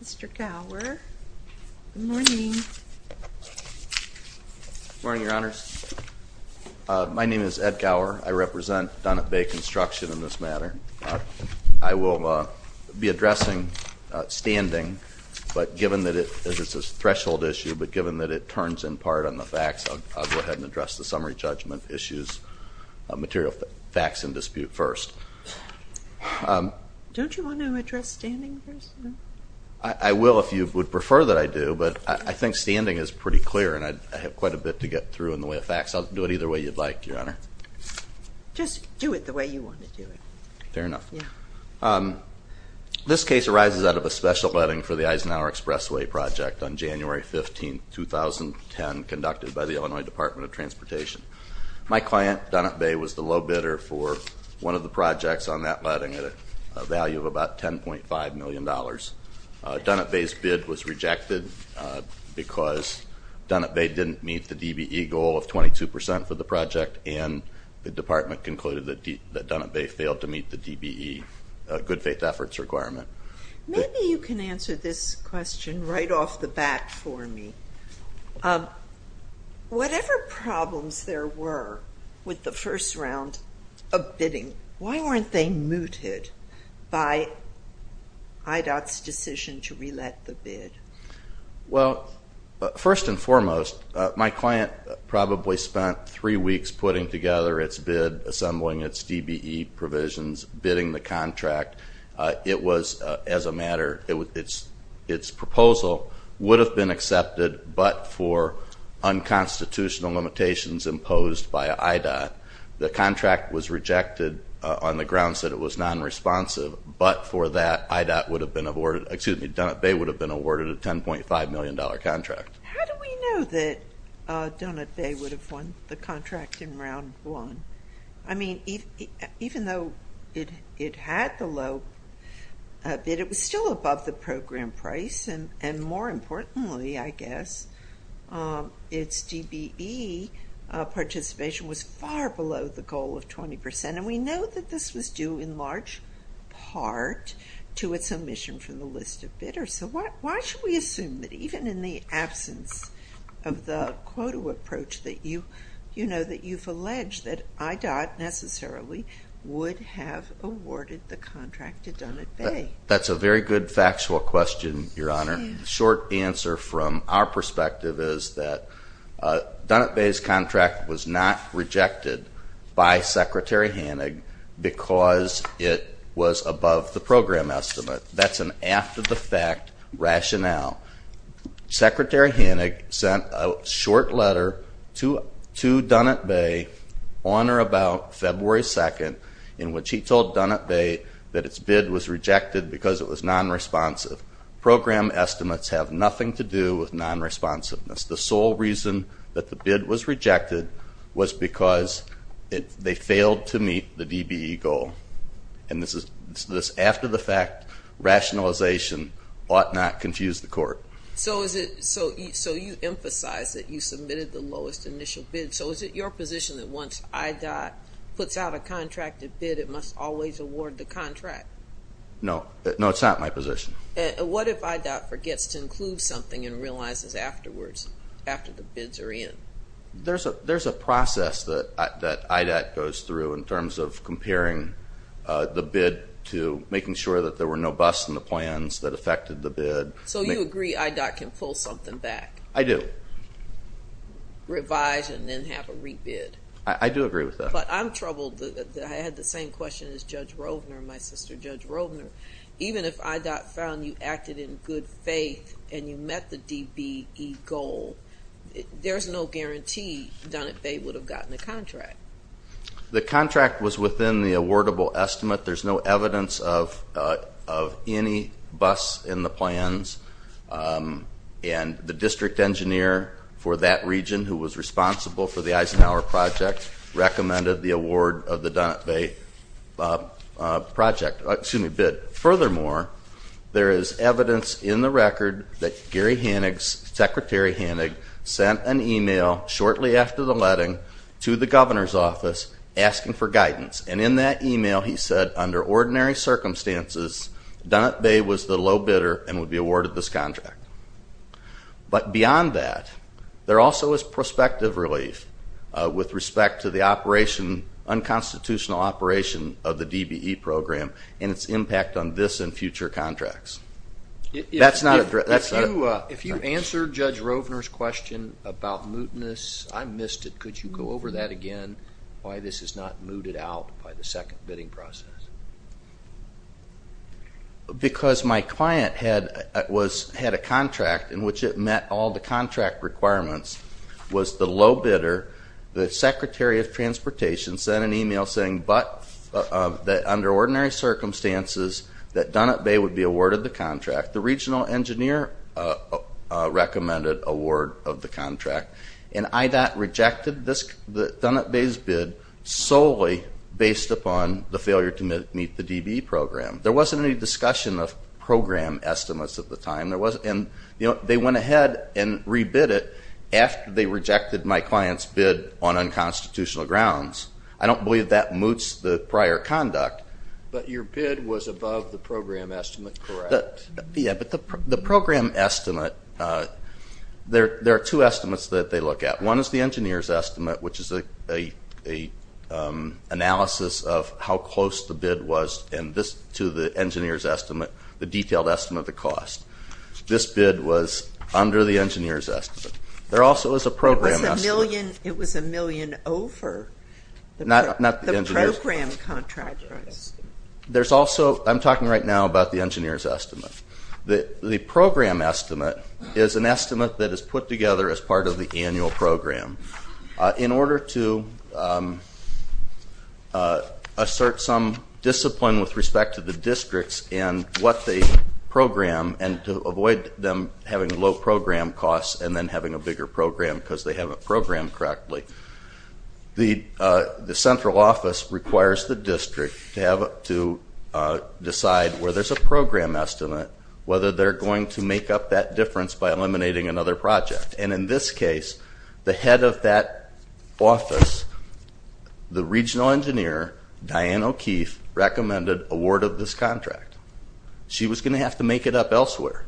Mr. Gower. Good morning. Good morning, Your Honors. My name is Ed Gower. I represent Dunnett Bay Construction in this matter. I will be addressing standing, but given that it is a threshold issue, but given that it turns in part on the facts, I'll go ahead and address the summary judgment issues, material facts in dispute first. Don't you want to address standing first? I will if you would prefer that I do, but I think standing is pretty clear and I have quite a bit to get through in the way of facts. I'll do it either way you'd like, Your Honor. Just do it the way you want to do it. Fair enough. This case arises out of a special vetting for the Eisenhower Expressway project on January 15, 2010, conducted by the Illinois Department of Transportation. My client, Dunnett Bay, was the low bidder for one of the projects on that vetting at a value of about $10.5 million. Dunnett Bay's bid was rejected because Dunnett Bay didn't meet the DBE goal of 22 percent for the project and the department concluded that Dunnett Bay failed to meet the DBE good faith efforts requirement. Maybe you can answer this question right off the bat for me. Whatever problems there were with the first round of bidding, why weren't they mooted by IDOT's decision to re-let the bid? First and foremost, my client probably spent three weeks putting together its bid, assembling its DBE provisions, bidding the contract. Its proposal would have been accepted but for unconstitutional limitations imposed by IDOT. The contract was rejected on the grounds that it was non-responsive, but for that, Dunnett Bay would have been awarded a $10.5 million contract. How do we know that Dunnett Bay would have won the contract in round one? I mean, even though it had the low bid, it was still above the program price and more importantly, I guess, its DBE participation was far below the goal of 20 percent and we know that this was due in large part to its omission from the list of bidders. So why should we assume that even in the absence of the quota approach that you've alleged that IDOT necessarily would have awarded the contract to Dunnett Bay? That's a very good factual question, Your Honor. The short answer from our perspective is that Dunnett Bay's contract was not rejected by Secretary Hannig because it was above the goal. Secretary Hannig sent a short letter to Dunnett Bay on or about February 2nd in which he told Dunnett Bay that its bid was rejected because it was non-responsive. Program estimates have nothing to do with non-responsiveness. The sole reason that the bid was rejected was because they failed to meet the DBE goal. And this after the fact rationalization ought not confuse the court. So you emphasize that you submitted the lowest initial bid. So is it your position that once IDOT puts out a contracted bid, it must always award the contract? No, it's not my position. What if IDOT forgets to include something and realizes afterwards, after the bids are in? There's a process that IDOT goes through in terms of comparing the bid to making sure that there were no busts in the plans that affected the bid. So you agree IDOT can pull something back? I do. Revise and then have a re-bid? I do agree with that. But I'm troubled that I had the same question as Judge Rovner, my sister Judge Rovner. Even if IDOT found you acted in good faith and you met the DBE goal, there's no guarantee Dunnett Bay would have gotten a contract. The contract was within the awardable estimate. There's no evidence of any busts in the plans. And the district engineer for that region who was responsible for the Eisenhower project recommended the award of the Dunnett Bay project, excuse me, bid. Furthermore, there is evidence in the record that Gary Hanig, Secretary Hanig, sent an email to Judge Rovner's office asking for guidance. And in that email he said, under ordinary circumstances, Dunnett Bay was the low bidder and would be awarded this contract. But beyond that, there also is prospective relief with respect to the unconstitutional operation of the DBE program and its impact on this and future contracts. If you answer Judge Rovner's question about mootness, I missed it, could you go over that again, why this is not mooted out by the second bidding process? Because my client had a contract in which it met all the contract requirements, was the low bidder, the Secretary of Transportation sent an email saying that under ordinary circumstances that Dunnett Bay would be awarded the contract. The regional engineer recommended award of the contract, and IDOT rejected Dunnett Bay's bid solely based upon the failure to meet the DBE program. There wasn't any discussion of program estimates at the time, and they went ahead and re-bid it after they rejected my client's bid on unconstitutional grounds. I don't believe that moots the prior conduct. But your bid was above the program estimate, correct? Yeah, but the program estimate, there are two estimates that they look at. One is the engineer's estimate, which is an analysis of how close the bid was to the engineer's estimate, the detailed estimate of the cost. This bid was under the engineer's estimate. There also is a program estimate. It was a million over the program contractor's. There's also, I'm talking right now about the engineer's estimate. The program estimate is an estimate that is put together as part of the annual program. In order to assert some discipline with respect to the districts and what they program, and to avoid them having low program costs and then having a bigger program because they haven't programmed correctly, the central office requires the district to decide where there's a program estimate, whether they're going to make up that difference by eliminating another project. And in this case, the head of that office, the regional engineer, Diane O'Keefe, recommended award of this contract. She was going to have to make it up elsewhere.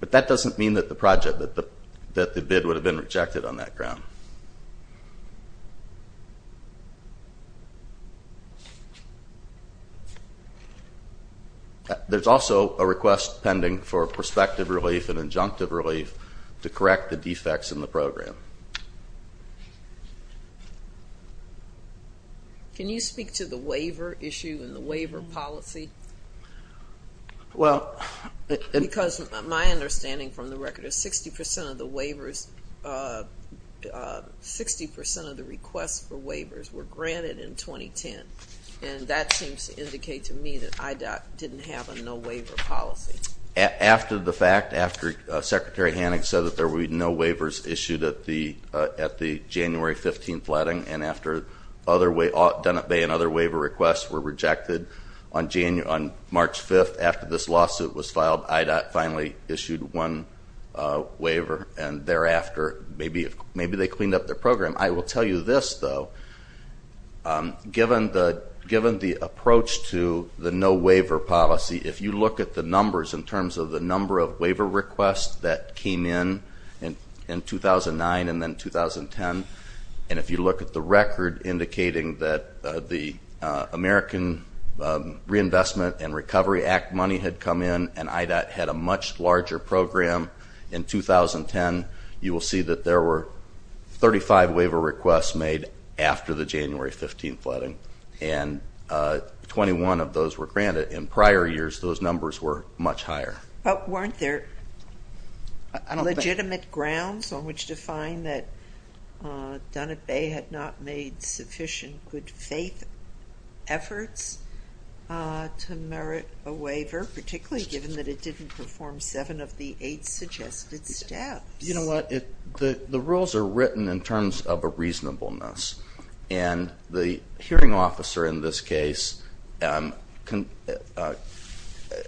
But that doesn't mean that the project, that the project is going to fail. There's also a request pending for prospective relief and injunctive relief to correct the defects in the program. Can you speak to the waiver issue and the waiver policy? Because my understanding from the record is 60% of the waivers, 60% of the requests for waivers were granted in 2010. And that seems to indicate to me that IDOT didn't have a no waiver policy. After the fact, after Secretary Hannig said that there would be no waivers issued at the On March 5th, after this lawsuit was filed, IDOT finally issued one waiver and thereafter maybe they cleaned up their program. I will tell you this though, given the approach to the no waiver policy, if you look at the numbers in terms of the number of waiver requests that came in in 2009 and then 2010, and if you look at the record indicating that the American Reinvestment and Recovery Act money had come in and IDOT had a much larger program in 2010, you will see that there were 35 waiver requests made after the January 15th flooding. And 21 of those were granted. In prior years those numbers were much higher. But weren't there legitimate grounds on which to find that Dunnett Bay had not made sufficient good faith efforts to merit a waiver, particularly given that it didn't perform seven of the eight suggested steps? You know what, the rules are written in terms of a reasonableness. And the hearing officer in this case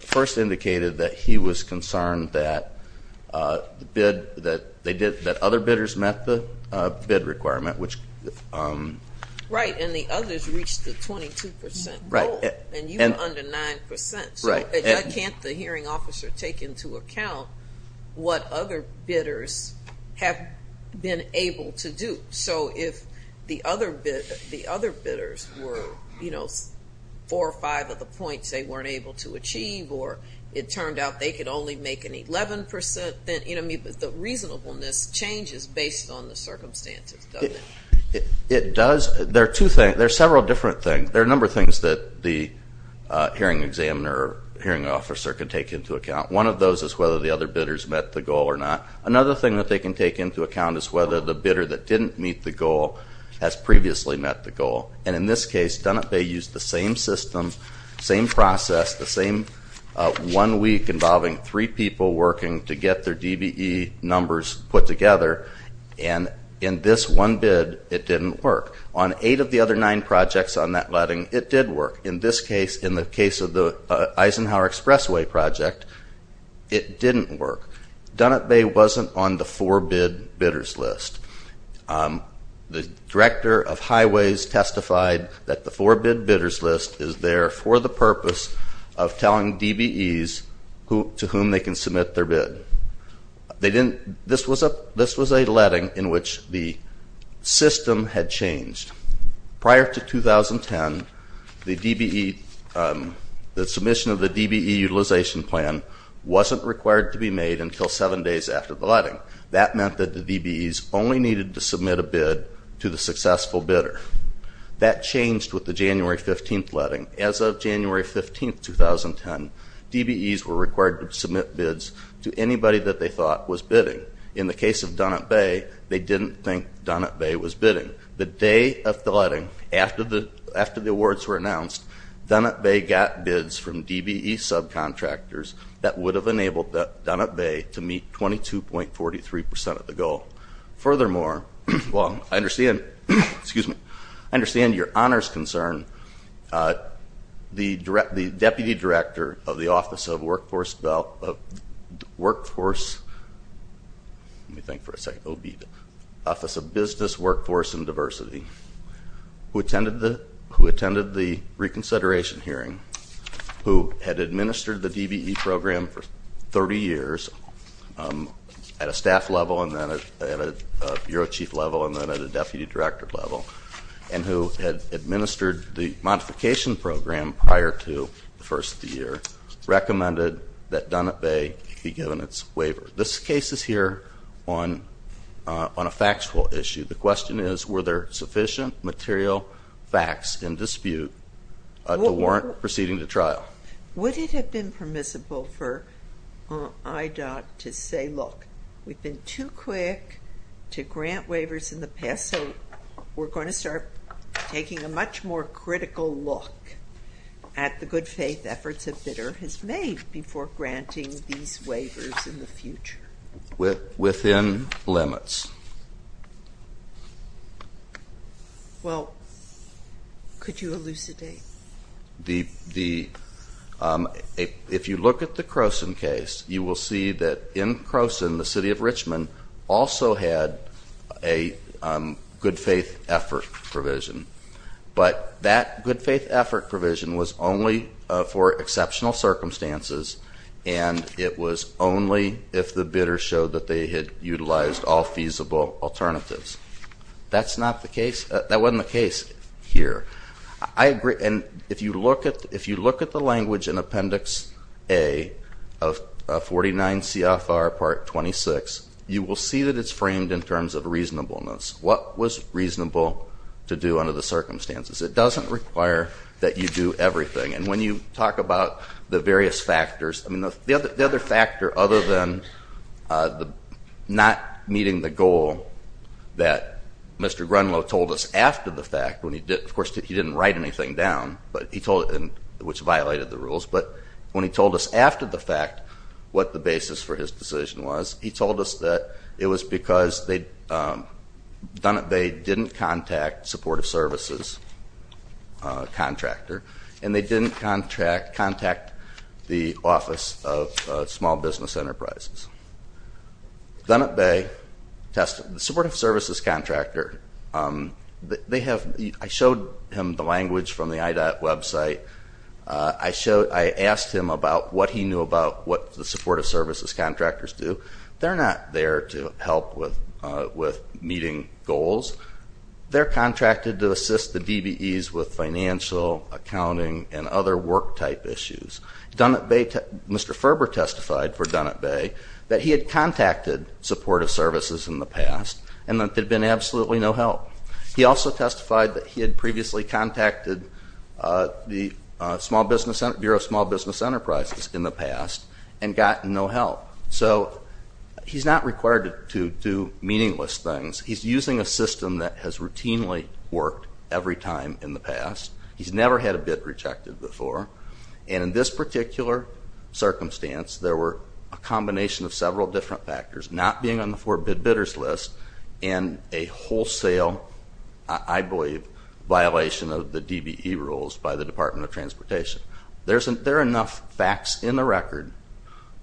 first indicated that he was concerned that other bidders met the bid requirement, which... Right, and the others reached the 22% goal, and you were under 9%. So why can't the hearing officer take into account what other bidders have been able to do? So if the other bidders were four or five of the points they weren't able to achieve, or it turned out they could only make an 11%, the reasonableness changes based on the circumstances, doesn't it? It does. There are two things. There are several different things. There are a number of things that the hearing examiner or hearing officer can take into account. One of those is whether the other bidders met the goal or not. Another thing that they can take into account is whether the bidder that didn't meet the goal has previously met the goal. And in this case, Dunnett Bay used the same system, same process, the same one week involving three people working to get their DBE numbers put together, and in this one bid, it didn't work. On eight of the other nine projects on that letting, it did work. In this case, in the case of the Eisenhower Expressway project, it didn't work. Dunnett Bay wasn't on the four bid bidders list. The director of highways testified that the four bid bidders list is there for the purpose of telling DBEs to whom they can submit their bid. This was a letting in which the system had changed. Prior to 2010, the submission of the DBE utilization plan wasn't required to be made until seven days after the letting. That meant that the DBEs only needed to submit a bid to the successful bidder. That changed with the January 15th letting. As of January 15th, 2010, DBEs were required to submit bids to anybody that they thought was bidding. In the case of Dunnett Bay, they didn't think Dunnett Bay was bidding. The day of the letting, after the awards were announced, Dunnett Bay got bids from DBE subcontractors that would have enabled Dunnett Bay to meet 22.43% of the goal. Furthermore, I understand your honors concern, the Deputy Director of the Office of Business, Workforce, and Diversity, who attended the reconsideration hearing, who had administered the DBE program for 30 years at a staff level, and then at a Bureau Chief level, and then at a Deputy Director level, and who had administered the modification program prior to the first year, recommended that Dunnett Bay be given its waiver. This case is here on a factual issue. The question is were there sufficient material facts in dispute to warrant proceeding to trial? Would it have been permissible for IDOT to say, look, we've been too quick to grant waivers in the past, so we're going to start taking a much more critical look at the good faith efforts a bidder has made before granting these waivers in the future? Within limits. Well, could you elucidate? The, if you look at the Croson case, you will see that in Croson, the City of Richmond also had a good faith effort provision, but that good faith effort provision was only for exceptional indicators showed that they had utilized all feasible alternatives. That's not the case, that wasn't the case here. I agree, and if you look at, if you look at the language in Appendix A of 49 CFR Part 26, you will see that it's framed in terms of reasonableness. What was reasonable to do under the circumstances? It doesn't require that you do everything, and when you talk about the various factors, I mean, the other factor other than not meeting the goal that Mr. Grunlow told us after the fact, when he did, of course, he didn't write anything down, but he told, which violated the rules, but when he told us after the fact what the basis for his decision was, he told us that it was because they didn't contact supportive services contractor, and they didn't contract, contact the Office of Small Business Enterprises. Dunnett Bay tested, the supportive services contractor, they have, I showed him the language from the IDOT website, I showed, I asked him about what he knew about what the supportive services contractors do. They're not there to help with meeting goals. They're contracted to assist the DBEs with financial, accounting, and other work type issues. Dunnett Bay, Mr. Ferber testified for Dunnett Bay that he had contacted supportive services in the past, and that there had been absolutely no help. He also testified that he had previously contacted the Small Business, Bureau of Small Business Enterprises in the past, and gotten no help. So, he's not required to do meaningless things. He's using a system that has routinely worked every time in the past. He's never had a bid rejected before, and in this particular circumstance, there were a combination of several different factors, not being on the forbid bidders list, and a wholesale, I believe, violation of the DBE rules by the Department of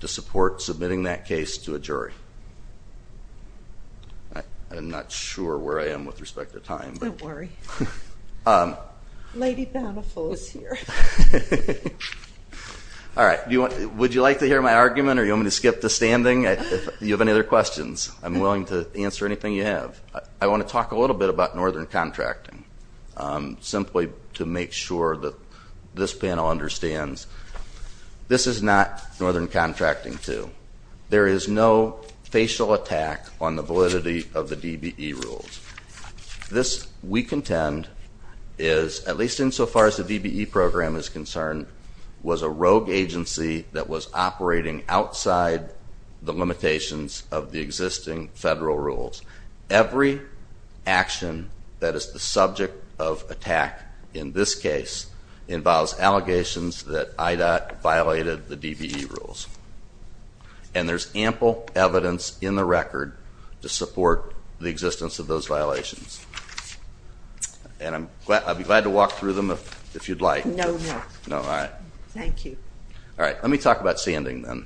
to support submitting that case to a jury. I'm not sure where I am with respect to time. Don't worry. Lady Bountiful is here. All right. Would you like to hear my argument, or you want me to skip to standing? If you have any other questions, I'm willing to answer anything you have. I want to talk a little bit about Northern Contracting, simply to make sure that this panel understands this is not Northern Contracting 2. There is no facial attack on the validity of the DBE rules. This, we contend, is, at least insofar as the DBE program is concerned, was a rogue agency that was operating outside the limitations of the existing federal rules. Every action that is the subject of attack in this case involves allegations that IDOT violated the DBE rules, and there's ample evidence in the record to support the existence of those violations, and I'll be glad to walk through them if you'd like. No, no. No, all right. Thank you. All right. Let me talk about standing then,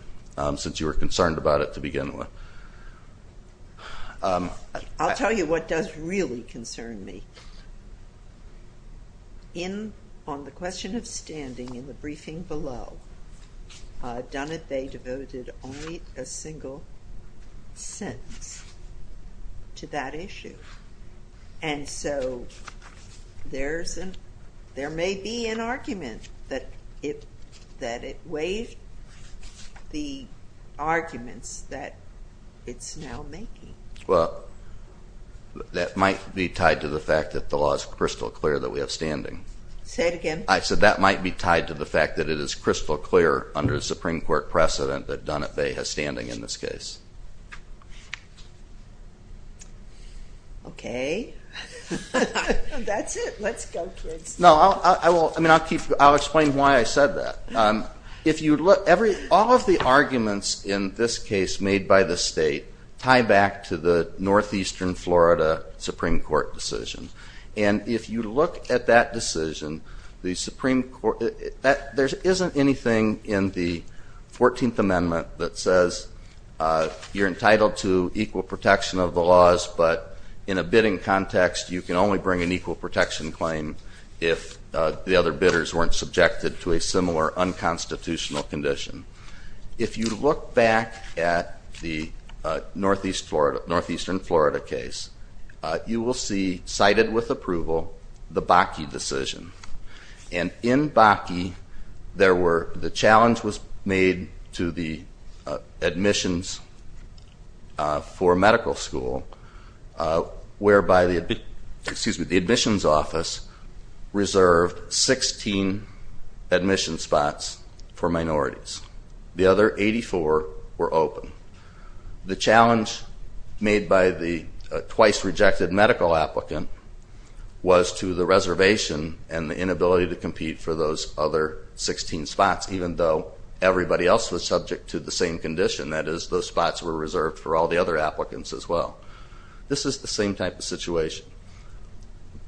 since you were concerned about it to begin with. I'll tell you what does really concern me. In, on the question of standing in the briefing below, Dunn and Bey devoted only a single sentence to that issue, and so there's an, there may be an argument that it, that it waived the arguments that it's now making. Well, that might be tied to the fact that the law is crystal clear that we have standing. Say it again. I said that might be tied to the fact that it is crystal clear under the Supreme Court precedent that Dunn and Bey has standing in this case. Okay. That's it. Let's go, kids. No, I will, I mean, I'll keep, I'll explain why I said that. If you look, every, all of the arguments in this case made by the state tie back to the Supreme Court. If you look at that decision, the Supreme Court, there isn't anything in the 14th Amendment that says you're entitled to equal protection of the laws, but in a bidding context, you can only bring an equal protection claim if the other bidders weren't subjected to a similar unconstitutional condition. If you look back at the Northeast Florida, Northeastern Florida case, you will see, cited with approval, the Bakke decision. And in Bakke, there were, the challenge was made to the admissions for medical school, whereby the, excuse me, the admissions office reserved 16 admission spots for minorities. The other 84 were open. The challenge made by the twice-rejected medical applicant was to the reservation and the inability to compete for those other 16 spots, even though everybody else was subject to the same condition, that is, those spots were reserved for all the other applicants as well. This is the same type of situation.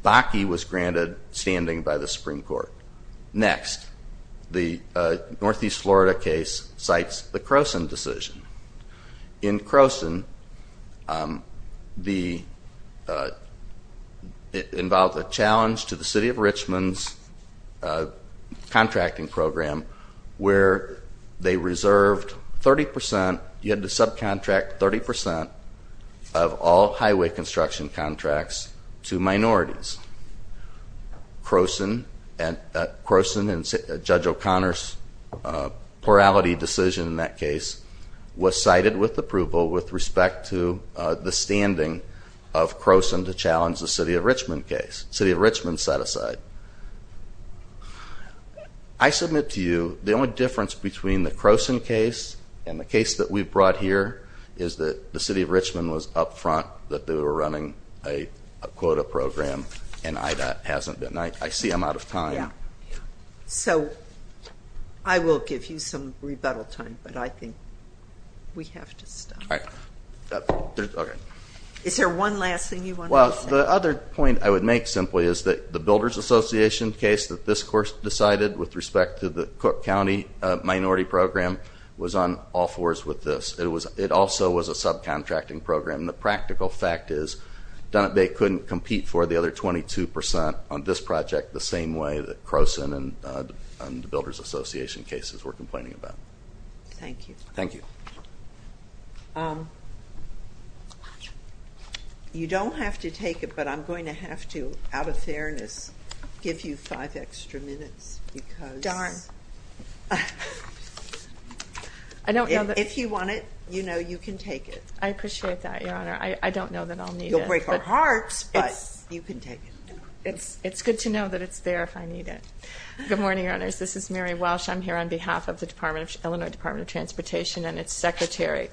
Bakke was granted standing by the Supreme Court. Next, the Northeast Florida case cites the Croson. It involved a challenge to the city of Richmond's contracting program where they reserved 30 percent, you had to subcontract 30 percent of all highway construction contracts to minorities. Croson and Judge O'Connor's plurality decision in that case was cited with approval with respect to the standing of Croson to challenge the city of Richmond case. City of Richmond set aside. I submit to you the only difference between the Croson case and the case that we brought here is that the city of Richmond was up front that they were running a quota program and IDA hasn't been. I see I'm out of time. So I will give you some rebuttal time, but I think we have to stop. Is there one last thing you want to say? Well, the other point I would make simply is that the Builders Association case that this course decided with respect to the Cook County minority program was on all fours with this. It also was a subcontracting program. The practical fact is that they couldn't compete for the other 22 percent on this project the same way that Croson and the Builders Association cases were complaining about. Thank you. Thank you. You don't have to take it, but I'm going to have to, out of fairness, give you five extra minutes. If you want it, you know you can take it. I appreciate that, Your Honor. I don't know that I'll need it. You'll break our hearts, but you can take it. It's good to know that it's there if I need it. Good morning, Your Honors. This is Mary Welsh. I'm here on behalf of the Illinois Department of Transportation and its Secretary.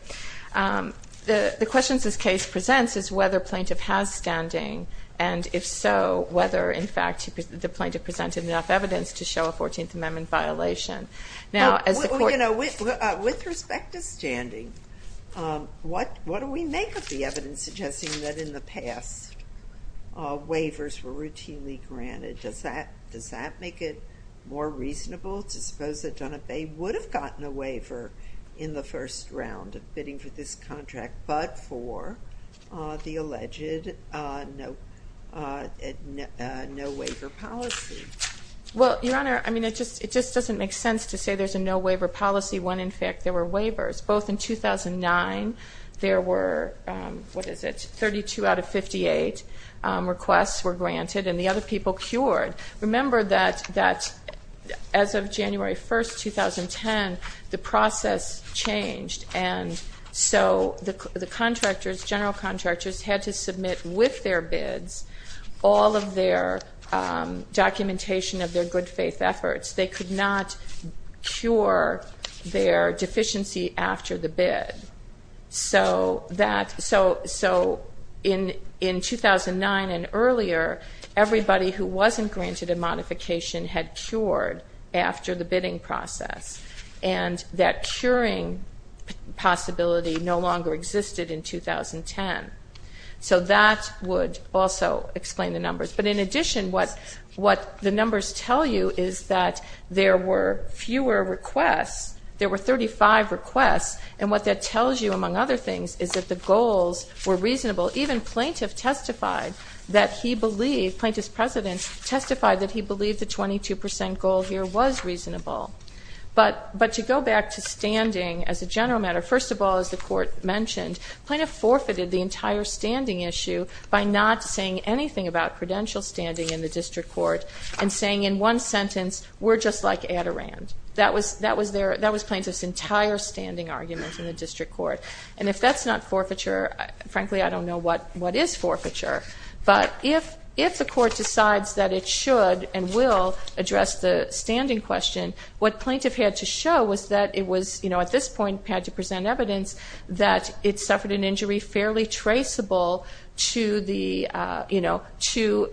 The questions this case presents is whether plaintiff has standing, and if so, whether, in fact, the plaintiff presented enough evidence to show a 14th Amendment violation. With respect to standing, what do we make of the evidence suggesting that in the past, waivers were routinely granted? Does that make it more reasonable to suppose that Dunabay would have gotten a waiver in the first round of bidding for this contract, but for the alleged no waiver policy? Well, Your Honor, I mean, it just doesn't make sense to say there's a no waiver policy when, in fact, there were waivers. Both in 2009, there were, what is it, 32 out of 58 requests were granted, and the other people cured. Remember that as of January 1, 2010, the process changed, and so the contractors, general contractors, had to submit with their bids all of their documentation of their good faith efforts. They could not cure their deficiency after the bid. So in 2009 and earlier, everybody who wasn't granted a modification had cured after the bidding process, and that curing possibility no longer existed in 2010. So that would also explain the numbers, but in addition, what the numbers tell you is that there were fewer requests. There were 35 requests, and what that tells you, among other things, is that the goals were reasonable. Even Plaintiff testified that he believed, Plaintiff's President testified that he believed the 22 percent goal here was reasonable. But to go back to standing as a general matter, first of all, as the Court mentioned, Plaintiff forfeited the entire standing issue by not saying anything about credential standing in the District Court and saying in one sentence, we're just like Adirond. That was Plaintiff's entire standing argument in the District Court, and if that's not forfeiture, frankly, I don't know what is forfeiture. But if the Court decides that it should and will address the standing question, what Plaintiff had to show was that it was, at this point, had to present evidence that it suffered an injury fairly traceable to the, you know, to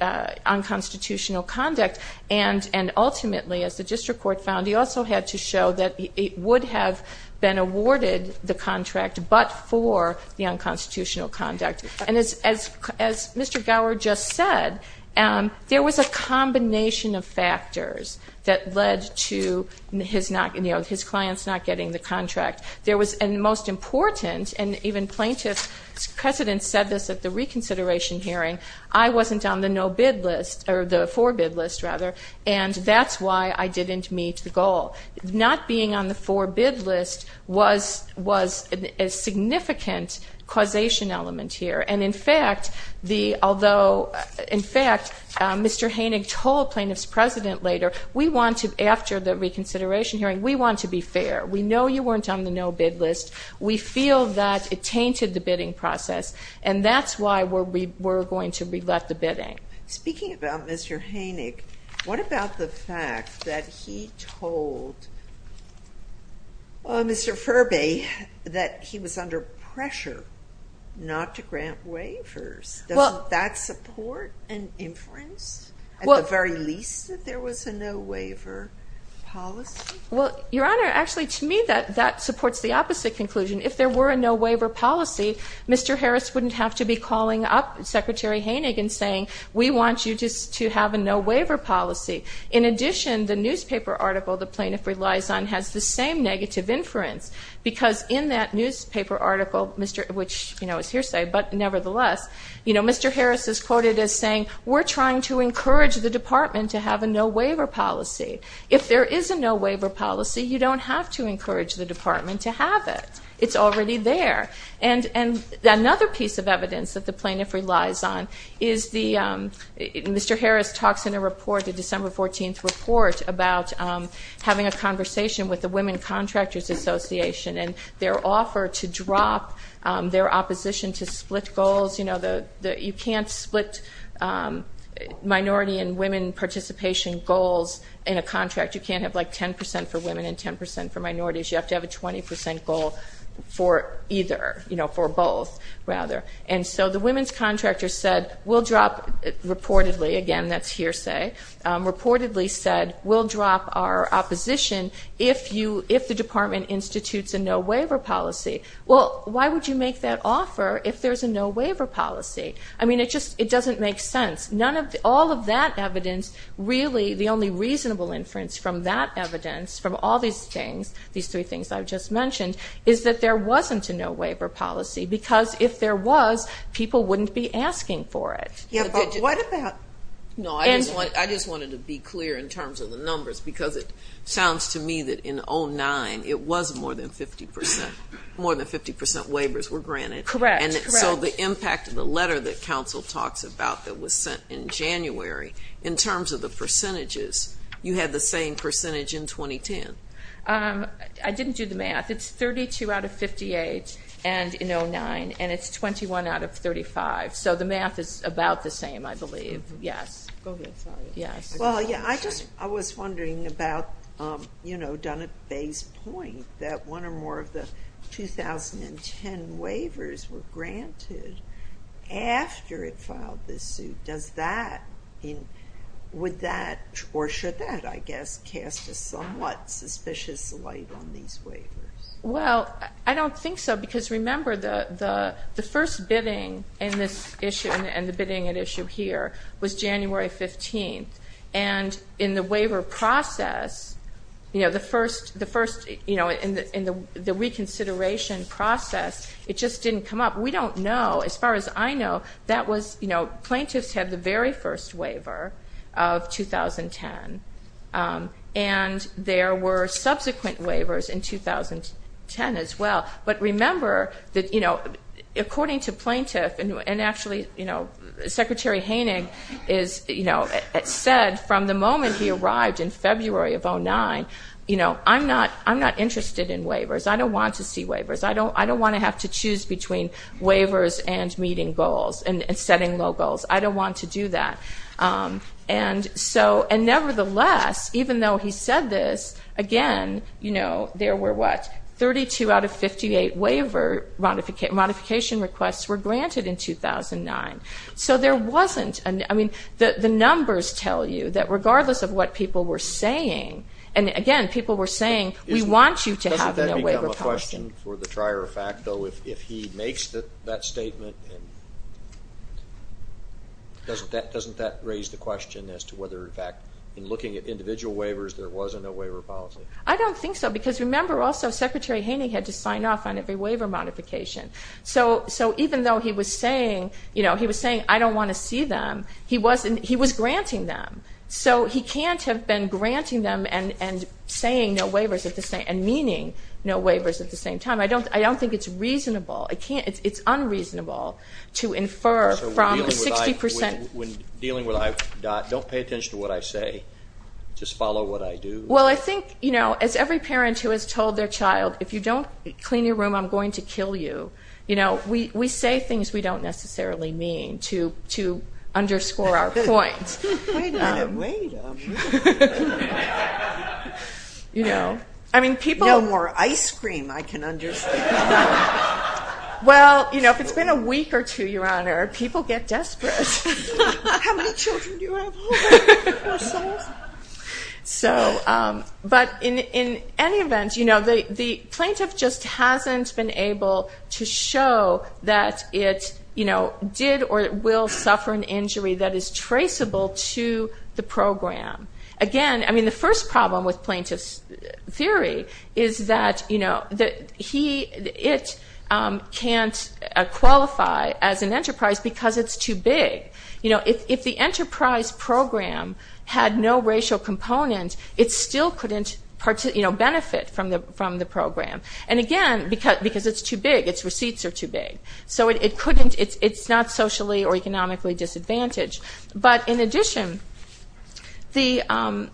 unconstitutional conduct. And ultimately, as the District Court found, he also had to show that it would have been awarded the contract, but for the unconstitutional conduct. And as Mr. Gower just said, there was a combination of factors that led to his not, you know, his clients not getting the contract. There was, and most important, and even Plaintiff's President said this at the reconsideration hearing, I wasn't on the no-bid list, or the for-bid list, rather, and that's why I didn't meet the goal. Not being on the for-bid list was a significant causation element here, and in fact, although, in fact, Mr. Hoenig told Plaintiff's President later, we want to, after the reconsideration hearing, we want to be fair. We know you weren't on the no-bid list. We feel that it tainted the bidding process, and that's why we're going to re-let the bidding. Speaking about Mr. Hoenig, what about the fact that he told Mr. Furby that he was under pressure not to grant waivers? Doesn't that support an inference, at the very least, that there was a waiver policy? Well, Your Honor, actually, to me, that supports the opposite conclusion. If there were a no-waiver policy, Mr. Harris wouldn't have to be calling up Secretary Hoenig and saying, we want you just to have a no-waiver policy. In addition, the newspaper article the Plaintiff relies on has the same negative inference, because in that newspaper article, which, you know, is hearsay, but nevertheless, you know, Mr. Harris is quoted as saying, we're trying to encourage the policy. If there is a no-waiver policy, you don't have to encourage the Department to have it. It's already there. And another piece of evidence that the Plaintiff relies on is the, Mr. Harris talks in a report, the December 14th report, about having a conversation with the Women Contractors Association, and their offer to drop their opposition to split goals. You know, you can't split minority and women participation goals in a contract. You can't have like 10% for women and 10% for minorities. You have to have a 20% goal for either, you know, for both, rather. And so the women's contractors said, we'll drop, reportedly, again, that's hearsay, reportedly said, we'll drop our opposition if you, if the Department institutes a no-waiver policy. Well, why would you make that decision? It doesn't make sense. None of, all of that evidence, really, the only reasonable inference from that evidence, from all these things, these three things I've just mentioned, is that there wasn't a no-waiver policy. Because if there was, people wouldn't be asking for it. Yeah, but what about, no, I just wanted to be clear in terms of the numbers, because it sounds to me that in 09, it was more than 50%, more than 50% of the no-waivers were granted. Correct, correct. And so the impact of the letter that council talks about that was sent in January, in terms of the percentages, you had the same percentage in 2010. I didn't do the math. It's 32 out of 58, and in 09, and it's 21 out of 35. So the math is about the same, I believe. Yes. Go ahead, sorry. Yes. Well, yeah, I just, I was wondering about, you know, Donna Bey's point that one or more of the 2010 waivers were granted after it filed this suit. Does that, would that, or should that, I guess, cast a somewhat suspicious light on these waivers? Well, I don't think so, because remember, the first bidding in this issue, and the waiver process, you know, the first, you know, in the reconsideration process, it just didn't come up. We don't know. As far as I know, that was, you know, plaintiffs had the very first waiver of 2010, and there were subsequent waivers in 2010 as well. But remember that, you know, according to plaintiff, and actually, you know, Secretary Hoenig is, you know, said from the moment he arrived in February of 09, you know, I'm not interested in waivers. I don't want to see waivers. I don't want to have to choose between waivers and meeting goals and setting low goals. I don't want to do that. And so, and nevertheless, even though he said this, again, you know, there were, what, 32 out of 58 waiver modification requests were granted in 2009. So there wasn't, I mean, the numbers tell you that regardless of what people were saying, and again, people were saying, we want you to have no waiver policy. I have a question for the trier of fact, though. If he makes that statement, doesn't that raise the question as to whether, in fact, in looking at individual waivers, there was a no waiver policy? I don't think so, because remember also, Secretary Hoenig had to sign off on every waiver modification. So even though he was saying, you know, he was saying, I don't want to see them, he was granting them. So he can't have been granting them and saying no waivers at the same, and meaning no waivers at the same time. I don't think it's reasonable. It's unreasonable to infer from the 60 percent. When dealing with, don't pay attention to what I say. Just follow what I do. Well, I think, you know, as every parent who has told their child, if you don't clean your room, I'm going to kill you, you know, we say things we don't necessarily mean to underscore our point. Wait a minute, wait a minute. You know, I mean, people. No more ice cream, I can understand. Well, you know, if it's been a week or two, Your Honor, people get desperate. How many children do you have? So, but in any event, you know, the plaintiff just hasn't been able to show that it, you know, did or will suffer an injury that is traceable to the program. Again, I mean, the first problem with plaintiff's theory is that, you know, he, it can't qualify as an enterprise because it's too big. You know, if the enterprise program had no racial component, it still couldn't, you know, benefit from the program. And again, because it's too big, its receipts are too big. So it couldn't, it's not socially or economically disadvantaged. But in addition, the,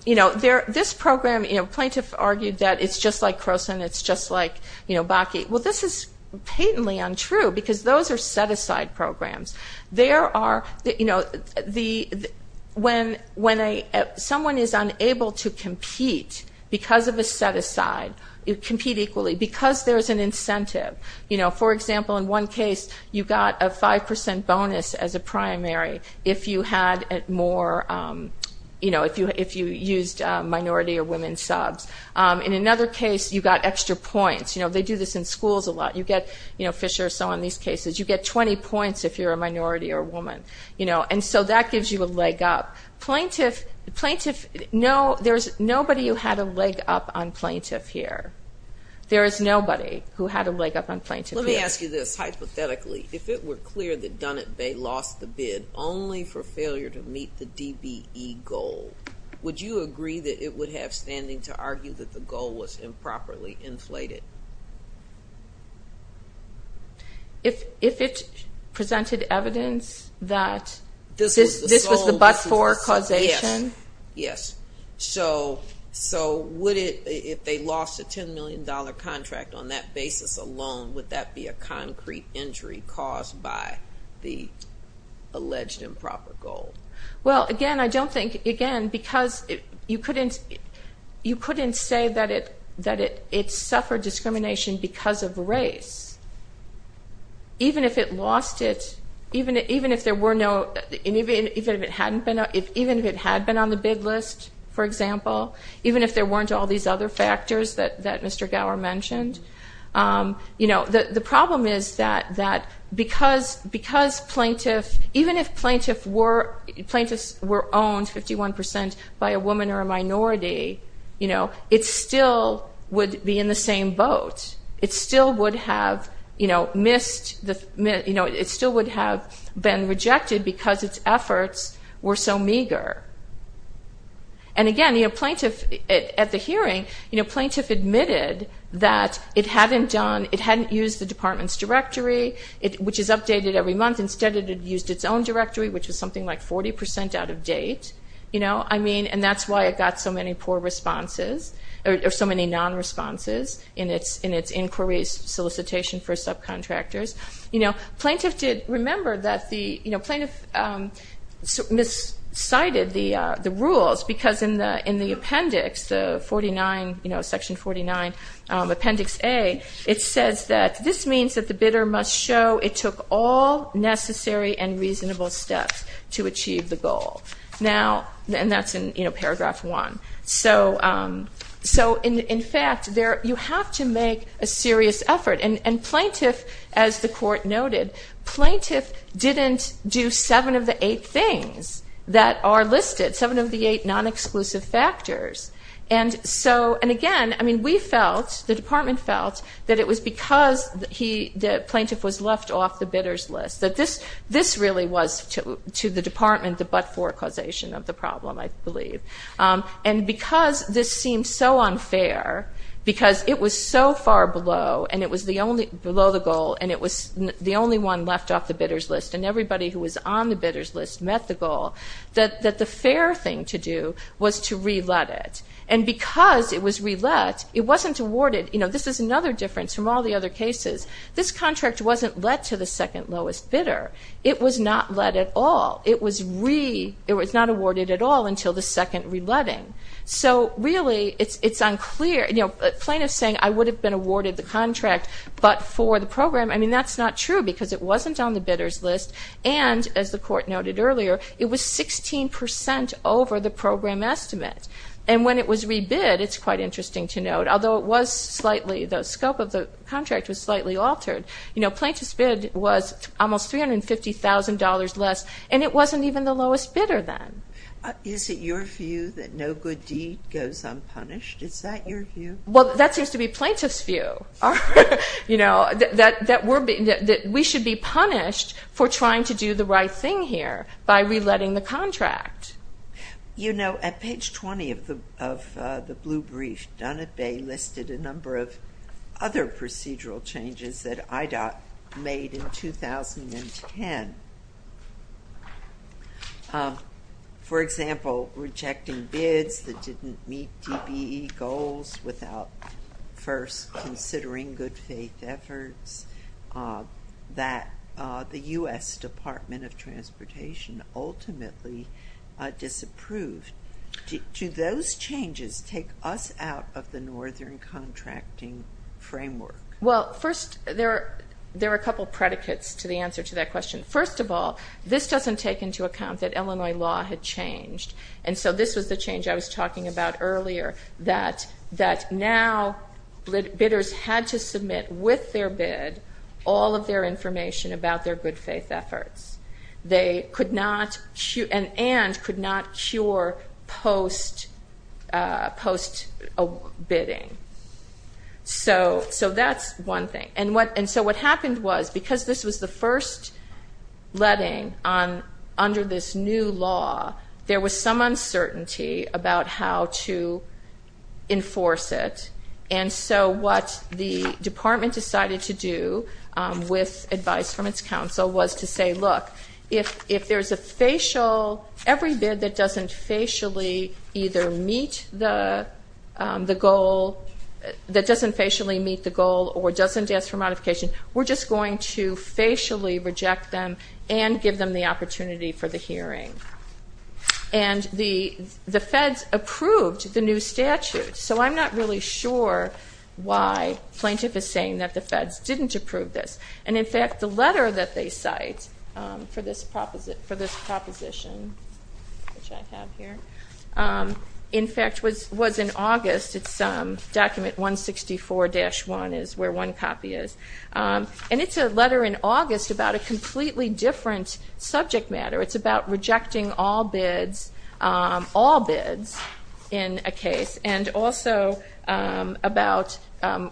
you know, this program, you know, plaintiff argued that it's just like Croson, it's just like, you know, Bakke. Well, this is patently untrue because those are set-aside programs. There are, you know, the, when a, someone is unable to compete because of a set-aside, compete equally, because there's an incentive. You know, for example, in one case, you got a 5% bonus as a primary if you had more, you know, if you used minority or women subs. In another case, you got extra points. You know, they do this in schools a lot. You get, you know, Fisher, so in these cases, you get 20 points if you're a minority or a woman. You know, and so that gives you a leg up. Plaintiff, plaintiff, no, there's nobody who had a leg up on plaintiff here. There is nobody who had a leg up on plaintiff here. Let me ask you this, hypothetically, if it were clear that Dunnett Bay lost the bid only for failure to meet the DBE goal, would you agree that it would have standing to argue that the goal was improperly inflated? If it presented evidence that this was the but-for causation? Yes, yes. So would it, if they lost a $10 million contract on that basis alone, would that be a concrete injury caused by the alleged improper goal? Well, again, I don't think, again, because you couldn't say that it suffered discrimination because of race. Even if it lost it, even if there were no, even if it had been on the bid list, for example, even if there weren't all these other factors that Mr. Gower mentioned, the problem is that because plaintiff, even if plaintiffs were owned 51% by a woman or a minority, it still would be in the same boat. It still would have missed, it still would have been rejected because its efforts were so meager. And again, you know, plaintiff, at the hearing, you know, plaintiff admitted that it hadn't done, it hadn't used the department's directory, which is updated every month. Instead, it had used its own directory, which was something like 40% out of date. You know, I mean, and that's why it got so many poor responses, or so many non-responses in its inquiries, solicitation for subcontractors. You know, plaintiff did remember that the, you know, plaintiff miscited the rules because in the appendix, the 49, you know, Section 49, Appendix A, it says that this means that the bidder must show it took all necessary and reasonable steps to achieve the goal. Now, and that's in, you know, Paragraph 1. So, in fact, you have to make a serious effort. And plaintiff, as the court noted, plaintiff didn't do seven of the eight things that are listed, seven of the eight non-exclusive factors. And so, and again, I mean, we felt, the department felt that it was because he, the plaintiff was left off the bidder's list, that this really was to the department, the but-for causation of the problem, I believe. And because this seemed so unfair, because it was so far below, and it was the only, below the goal, and it was the only one left off the bidder's list, and everybody who was on the bidder's list met the goal, that the fair thing to do was to re-let it. And because it was re-let, it wasn't awarded, you know, this is another difference from all the other cases. This contract wasn't let to the second lowest bidder. It was not let at all. It was re, it was not awarded at all until the second re-letting. So really, it's unclear, you know, plaintiff's saying, I would have been awarded the contract, but for the program, I mean, that's not true, because it wasn't on the bidder's list, and, as the court noted earlier, it was 16% over the program estimate. And when it was re-bid, it's quite interesting to note, although it was slightly, the scope of the contract was slightly altered, you know, plaintiff's bid was almost $350,000 less, and it wasn't even the lowest bidder then. Is it your view that no good deed goes unpunished? Is that your view? Well, that seems to be plaintiff's view, you know, that we should be punished for trying to do the right thing here, by re-letting the contract. You know, at page 20 of the blue brief, Dunn and Bay listed a number of other procedural changes that IDOT made in 2010. For example, rejecting bids that didn't meet DBE goals without first considering good faith efforts, that the U.S. Department of Transportation ultimately disapproved. Do those changes take us out of the Northern Contracting Framework? Well, first, there are a couple of predicates to the answer to that question. First of all, this doesn't take into account that Illinois law had changed. And so this was the change I was talking about earlier, that now bidders had to submit with their bid, all of their information about their good faith efforts. They could not, and could not cure post-bidding. So that's one thing. And so what happened was, because this was the first letting under this new law, there was some uncertainty about how to enforce it. And so what the department decided to do with advice from its counsel was to say, look, if there's a facial, every bid that doesn't facially either meet the goal, that doesn't facially meet the goal, or doesn't ask for modification, we're just going to facially reject them and give them the opportunity for the hearing. And the feds approved the new statute. So I'm not really sure why plaintiff is saying that the feds didn't approve this. And in fact, the letter that they cite for this proposition, which I have here, in fact, was in August. It's document 164-1 is where one copy is. And it's a letter in August about a completely different subject matter. It's about rejecting all bids, all bids in a case. And also about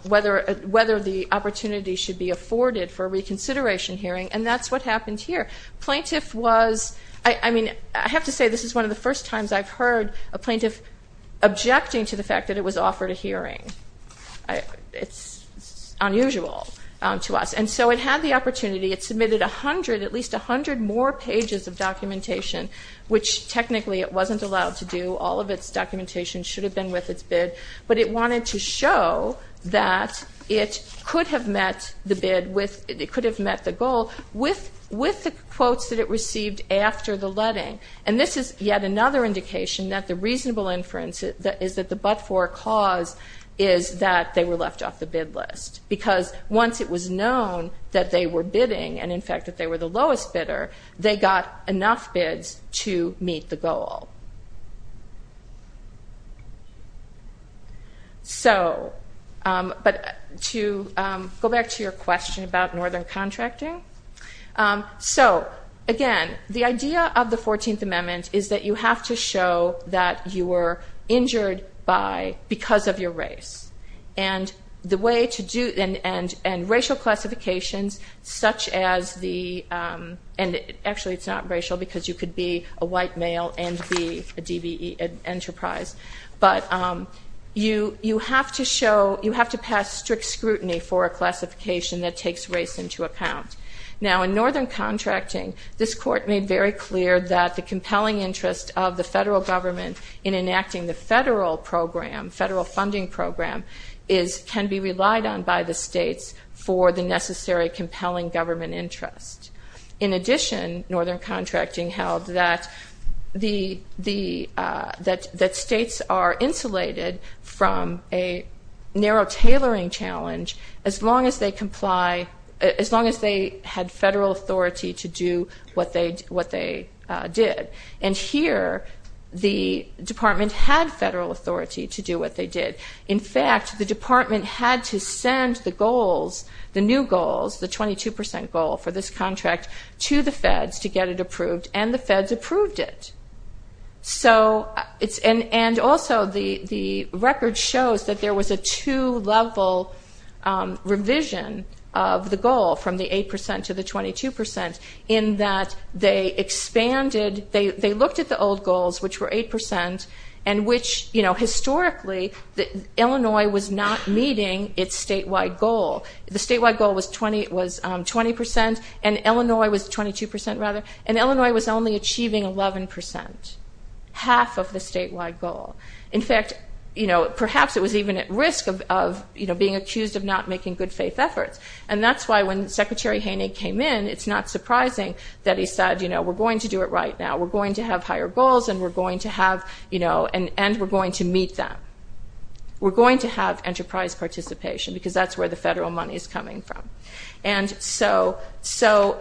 whether the opportunity should be afforded for reconsideration hearing. And that's what happened here. Plaintiff was, I mean, I have to say this is one of the first times I've heard a plaintiff objecting to the fact that it was offered a hearing. It's unusual to us. And so it had the opportunity. It submitted a hundred, at least a hundred more pages of documentation, which technically it wasn't allowed to do. All of its documentation should have been with its bid. But it wanted to show that it could have met the bid with, it could have met the goal with the quotes that it received after the letting. And this is yet another indication that the reasonable inference is that the but-for cause is that they were left off the bid list. Because once it was known that they were bidding, and in fact, that they were the lowest bidder, they got enough bids to meet the goal. So, but to go back to your question about northern contracting. So, again, the idea of the 14th Amendment is that you have to show that you were injured by, because of your race. And the way to do, and racial classifications such as the, and actually it's not racial because you could be a white male and be a DBE enterprise. But you have to show, you have to pass strict scrutiny for a classification that takes race into account. Now in northern contracting, this court made very clear that the compelling interest of the federal government in enacting the federal program, federal funding program, is, can be relied on by the states for the necessary compelling government interest. In addition, northern contracting held that the, that states are insulated from a narrow tailoring challenge as long as they comply, as long as they had federal authority to do what they did. And here, the department had federal authority to do what they did. In fact, the department had to send the goals, the new goals, the 22% goal for this contract to the feds to get it approved. And the feds approved it. So it's, and also the record shows that there was a two-level revision of the goal from the 8% to the 22% in that they expanded, they looked at the old goals, which were 8%, and which, you know, historically, Illinois was not meeting its statewide goal. The statewide goal was 20%, and Illinois was 22%, rather, and Illinois was only achieving 11%, half of the statewide goal. In fact, you know, perhaps it was even at risk of, you know, being accused of not making good faith efforts. And that's why when Secretary Haney came in, it's not surprising that he said, you know, we're going to do it right now. We're going to have higher goals, and we're going to have, you know, and we're going to meet them. We're going to have enterprise participation, because that's where the federal money is coming from. And so,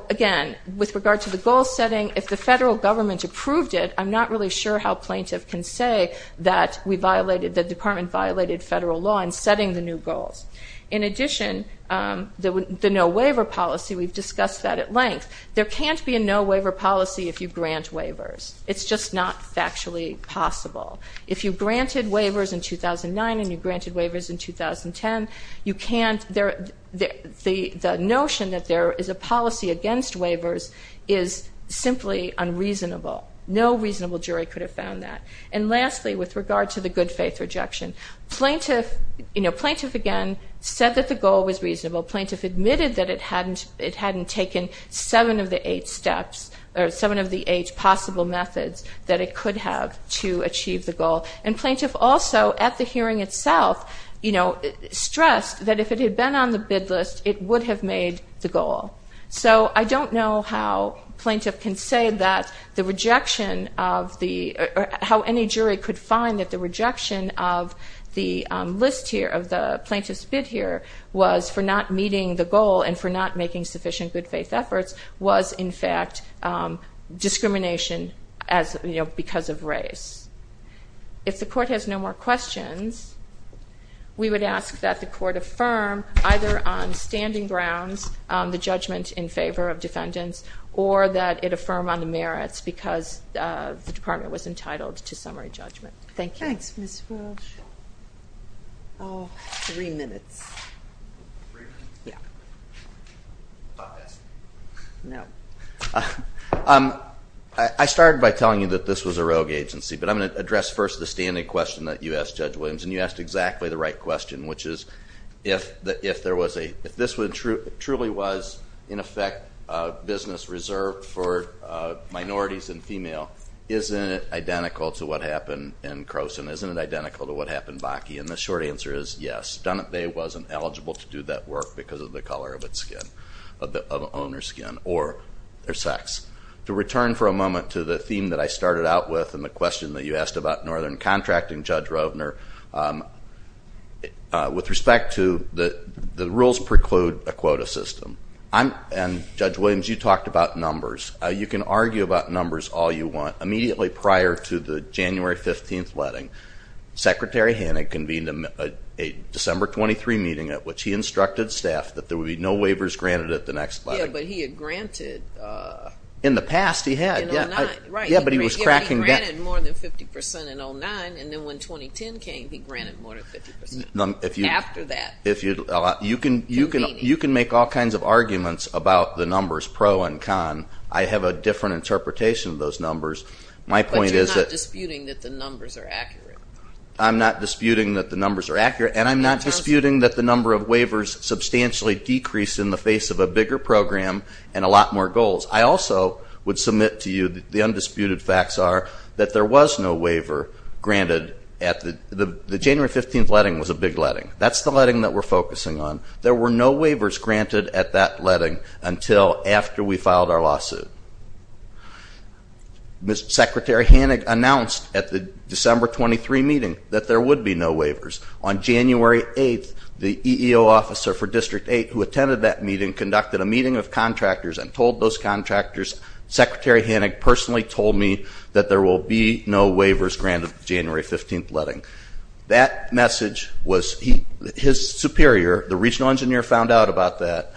again, with regard to the goal setting, if the federal government approved it, I'm not really sure how a plaintiff can say that we violated, the department violated federal law in setting the new goals. In addition, the no-waiver policy, we've discussed that at length. There can't be a no-waiver policy if you grant waivers. It's just not factually possible. If you granted waivers in 2009, and you granted waivers in 2010, you can't, the notion that there is a policy against waivers is simply unreasonable. No reasonable jury could have found that. And lastly, with regard to the good faith rejection, plaintiff, you know, plaintiff again said that the goal was reasonable. Plaintiff admitted that it hadn't taken seven of the eight steps, or seven of the eight possible methods that it could have to achieve the goal. And plaintiff also, at the hearing itself, you know, stressed that if it had been on the bid list, it would have made the goal. So I don't know how plaintiff can say that the rejection of the, how any jury could find that the rejection of the list here, of the plaintiff's bid here, was for not meeting the goal and for not making sufficient good faith efforts, was in fact discrimination as, you know, because of race. If the court has no more questions, we would ask that the court affirm either on standing grounds the judgment in favor of defendants, or that it affirm on the merits, because the department was entitled to summary judgment. Thank you. Thanks, Ms. Walsh. Oh, three minutes. Three minutes? Yeah. Thought this. No. I started by telling you that this was a rogue agency, but I'm going to address first the standing question that you asked, Judge Williams, and you asked exactly the right question, which is if there was a, if this truly was, in effect, a business reserved for minorities and female, isn't it identical to what happened in Croson? Isn't it identical to what happened in Bakke? And the short answer is yes. Dunip Bay wasn't eligible to do that work because of the color of its skin, of the owner's skin, or their sex. To return for a moment to the theme that I started out with and the question that you asked about Northern Contracting, Judge Rovner, with respect to the rules preclude a quota system. And, Judge Williams, you talked about numbers. You can argue about numbers all you want. Immediately prior to the January 15th letting, Secretary Hannig convened a December 23 meeting at which he instructed staff that there would be no waivers granted at the next letting. Yeah, but he had granted... In the past, he had. Yeah, but he was cracking... He granted more than 50 percent in 2009, and then when 2010 came, he granted more than 50 percent. After that. You can make all kinds of arguments about the numbers, pro and con. I have a different interpretation of those numbers. But you're not disputing that the numbers are accurate. I'm not disputing that the numbers are accurate, and I'm not disputing that the number of waivers substantially decreased in the face of a bigger program and a lot more goals. I also would submit to you that the undisputed facts are that there was no waiver granted at the... The January 15th letting was a big letting. That's the letting that we're focusing on. There were no waivers granted at that letting until after we filed our lawsuit. Secretary Hannig announced at the December 23 meeting that there would be no waivers. On January 8th, the EEO officer for District 8 who attended that meeting conducted a meeting of contractors and told those contractors, Secretary Hannig personally told me that there will be no waivers granted at the January 15th letting. That message was... His superior, the regional engineer, found out about that,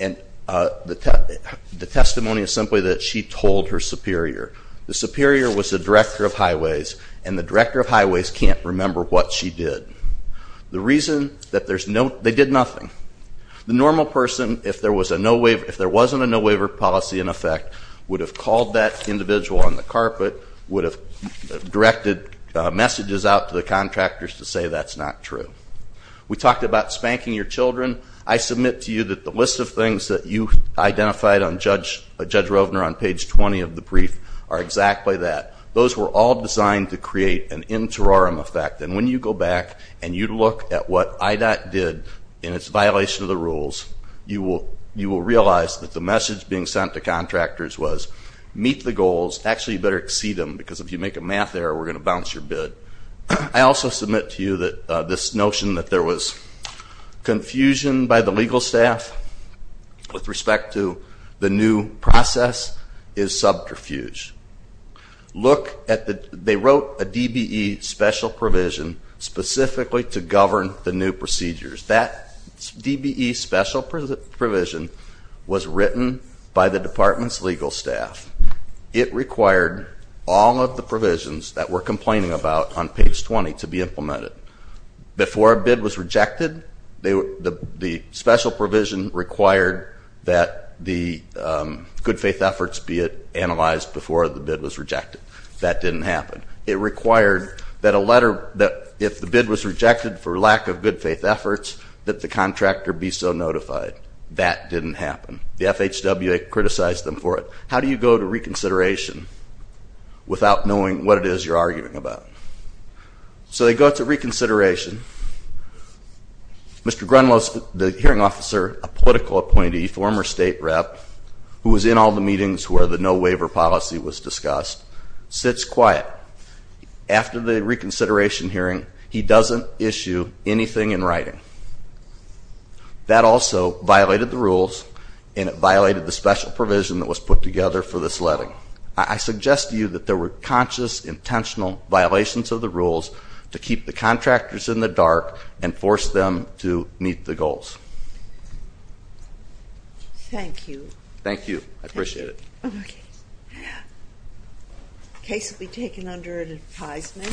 and the testimony is simply that she told her superior. The superior was the director of highways, and the director of highways can't remember what she did. The reason that there's no... They did nothing. The normal person, if there was a no waiver... If there wasn't a no waiver policy in effect, would have called that individual on the carpet, would have directed messages out to the contractors to say that's not true. We talked about spanking your children. I submit to you that the list of things that you identified on Judge Rovner on page 20 of the brief are exactly that. Those were all designed to create an interim effect, and when you go back and you look at what IDOT did in its violation of the rules, you will realize that the message being sent to contractors was meet the goals. Actually, you better exceed them, because if you make a math error, we're going to bounce your bid. I also submit to you that this notion that there was confusion by the legal staff with respect to the new process is subterfuge. Look at the... They wrote a DBE special provision specifically to govern the new procedures. That DBE special provision was written by the department's legal staff. It required all of the provisions that we're complaining about on page 20 to be implemented. Before a bid was rejected, the special provision required that the good faith efforts be analyzed before the bid was rejected. That didn't happen. It required that if the bid was rejected for lack of good faith efforts, that the contractor be so notified. That didn't happen. The FHWA criticized them for it. How do you go to reconsideration without knowing what it is you're arguing about? So they go to reconsideration. Mr. Grunlow, the hearing officer, a political appointee, former state rep, who was in all the meetings where the no-waiver policy was discussed, sits quiet. After the reconsideration hearing, he doesn't issue anything in writing. That also violated the rules, and it violated the special provision that was put together for this letting. I suggest to you that there were conscious, intentional violations of the rules to keep the contractors in the dark and force them to meet the goals. Thank you. Thank you. I appreciate it. Okay. Case will be taken under advisement.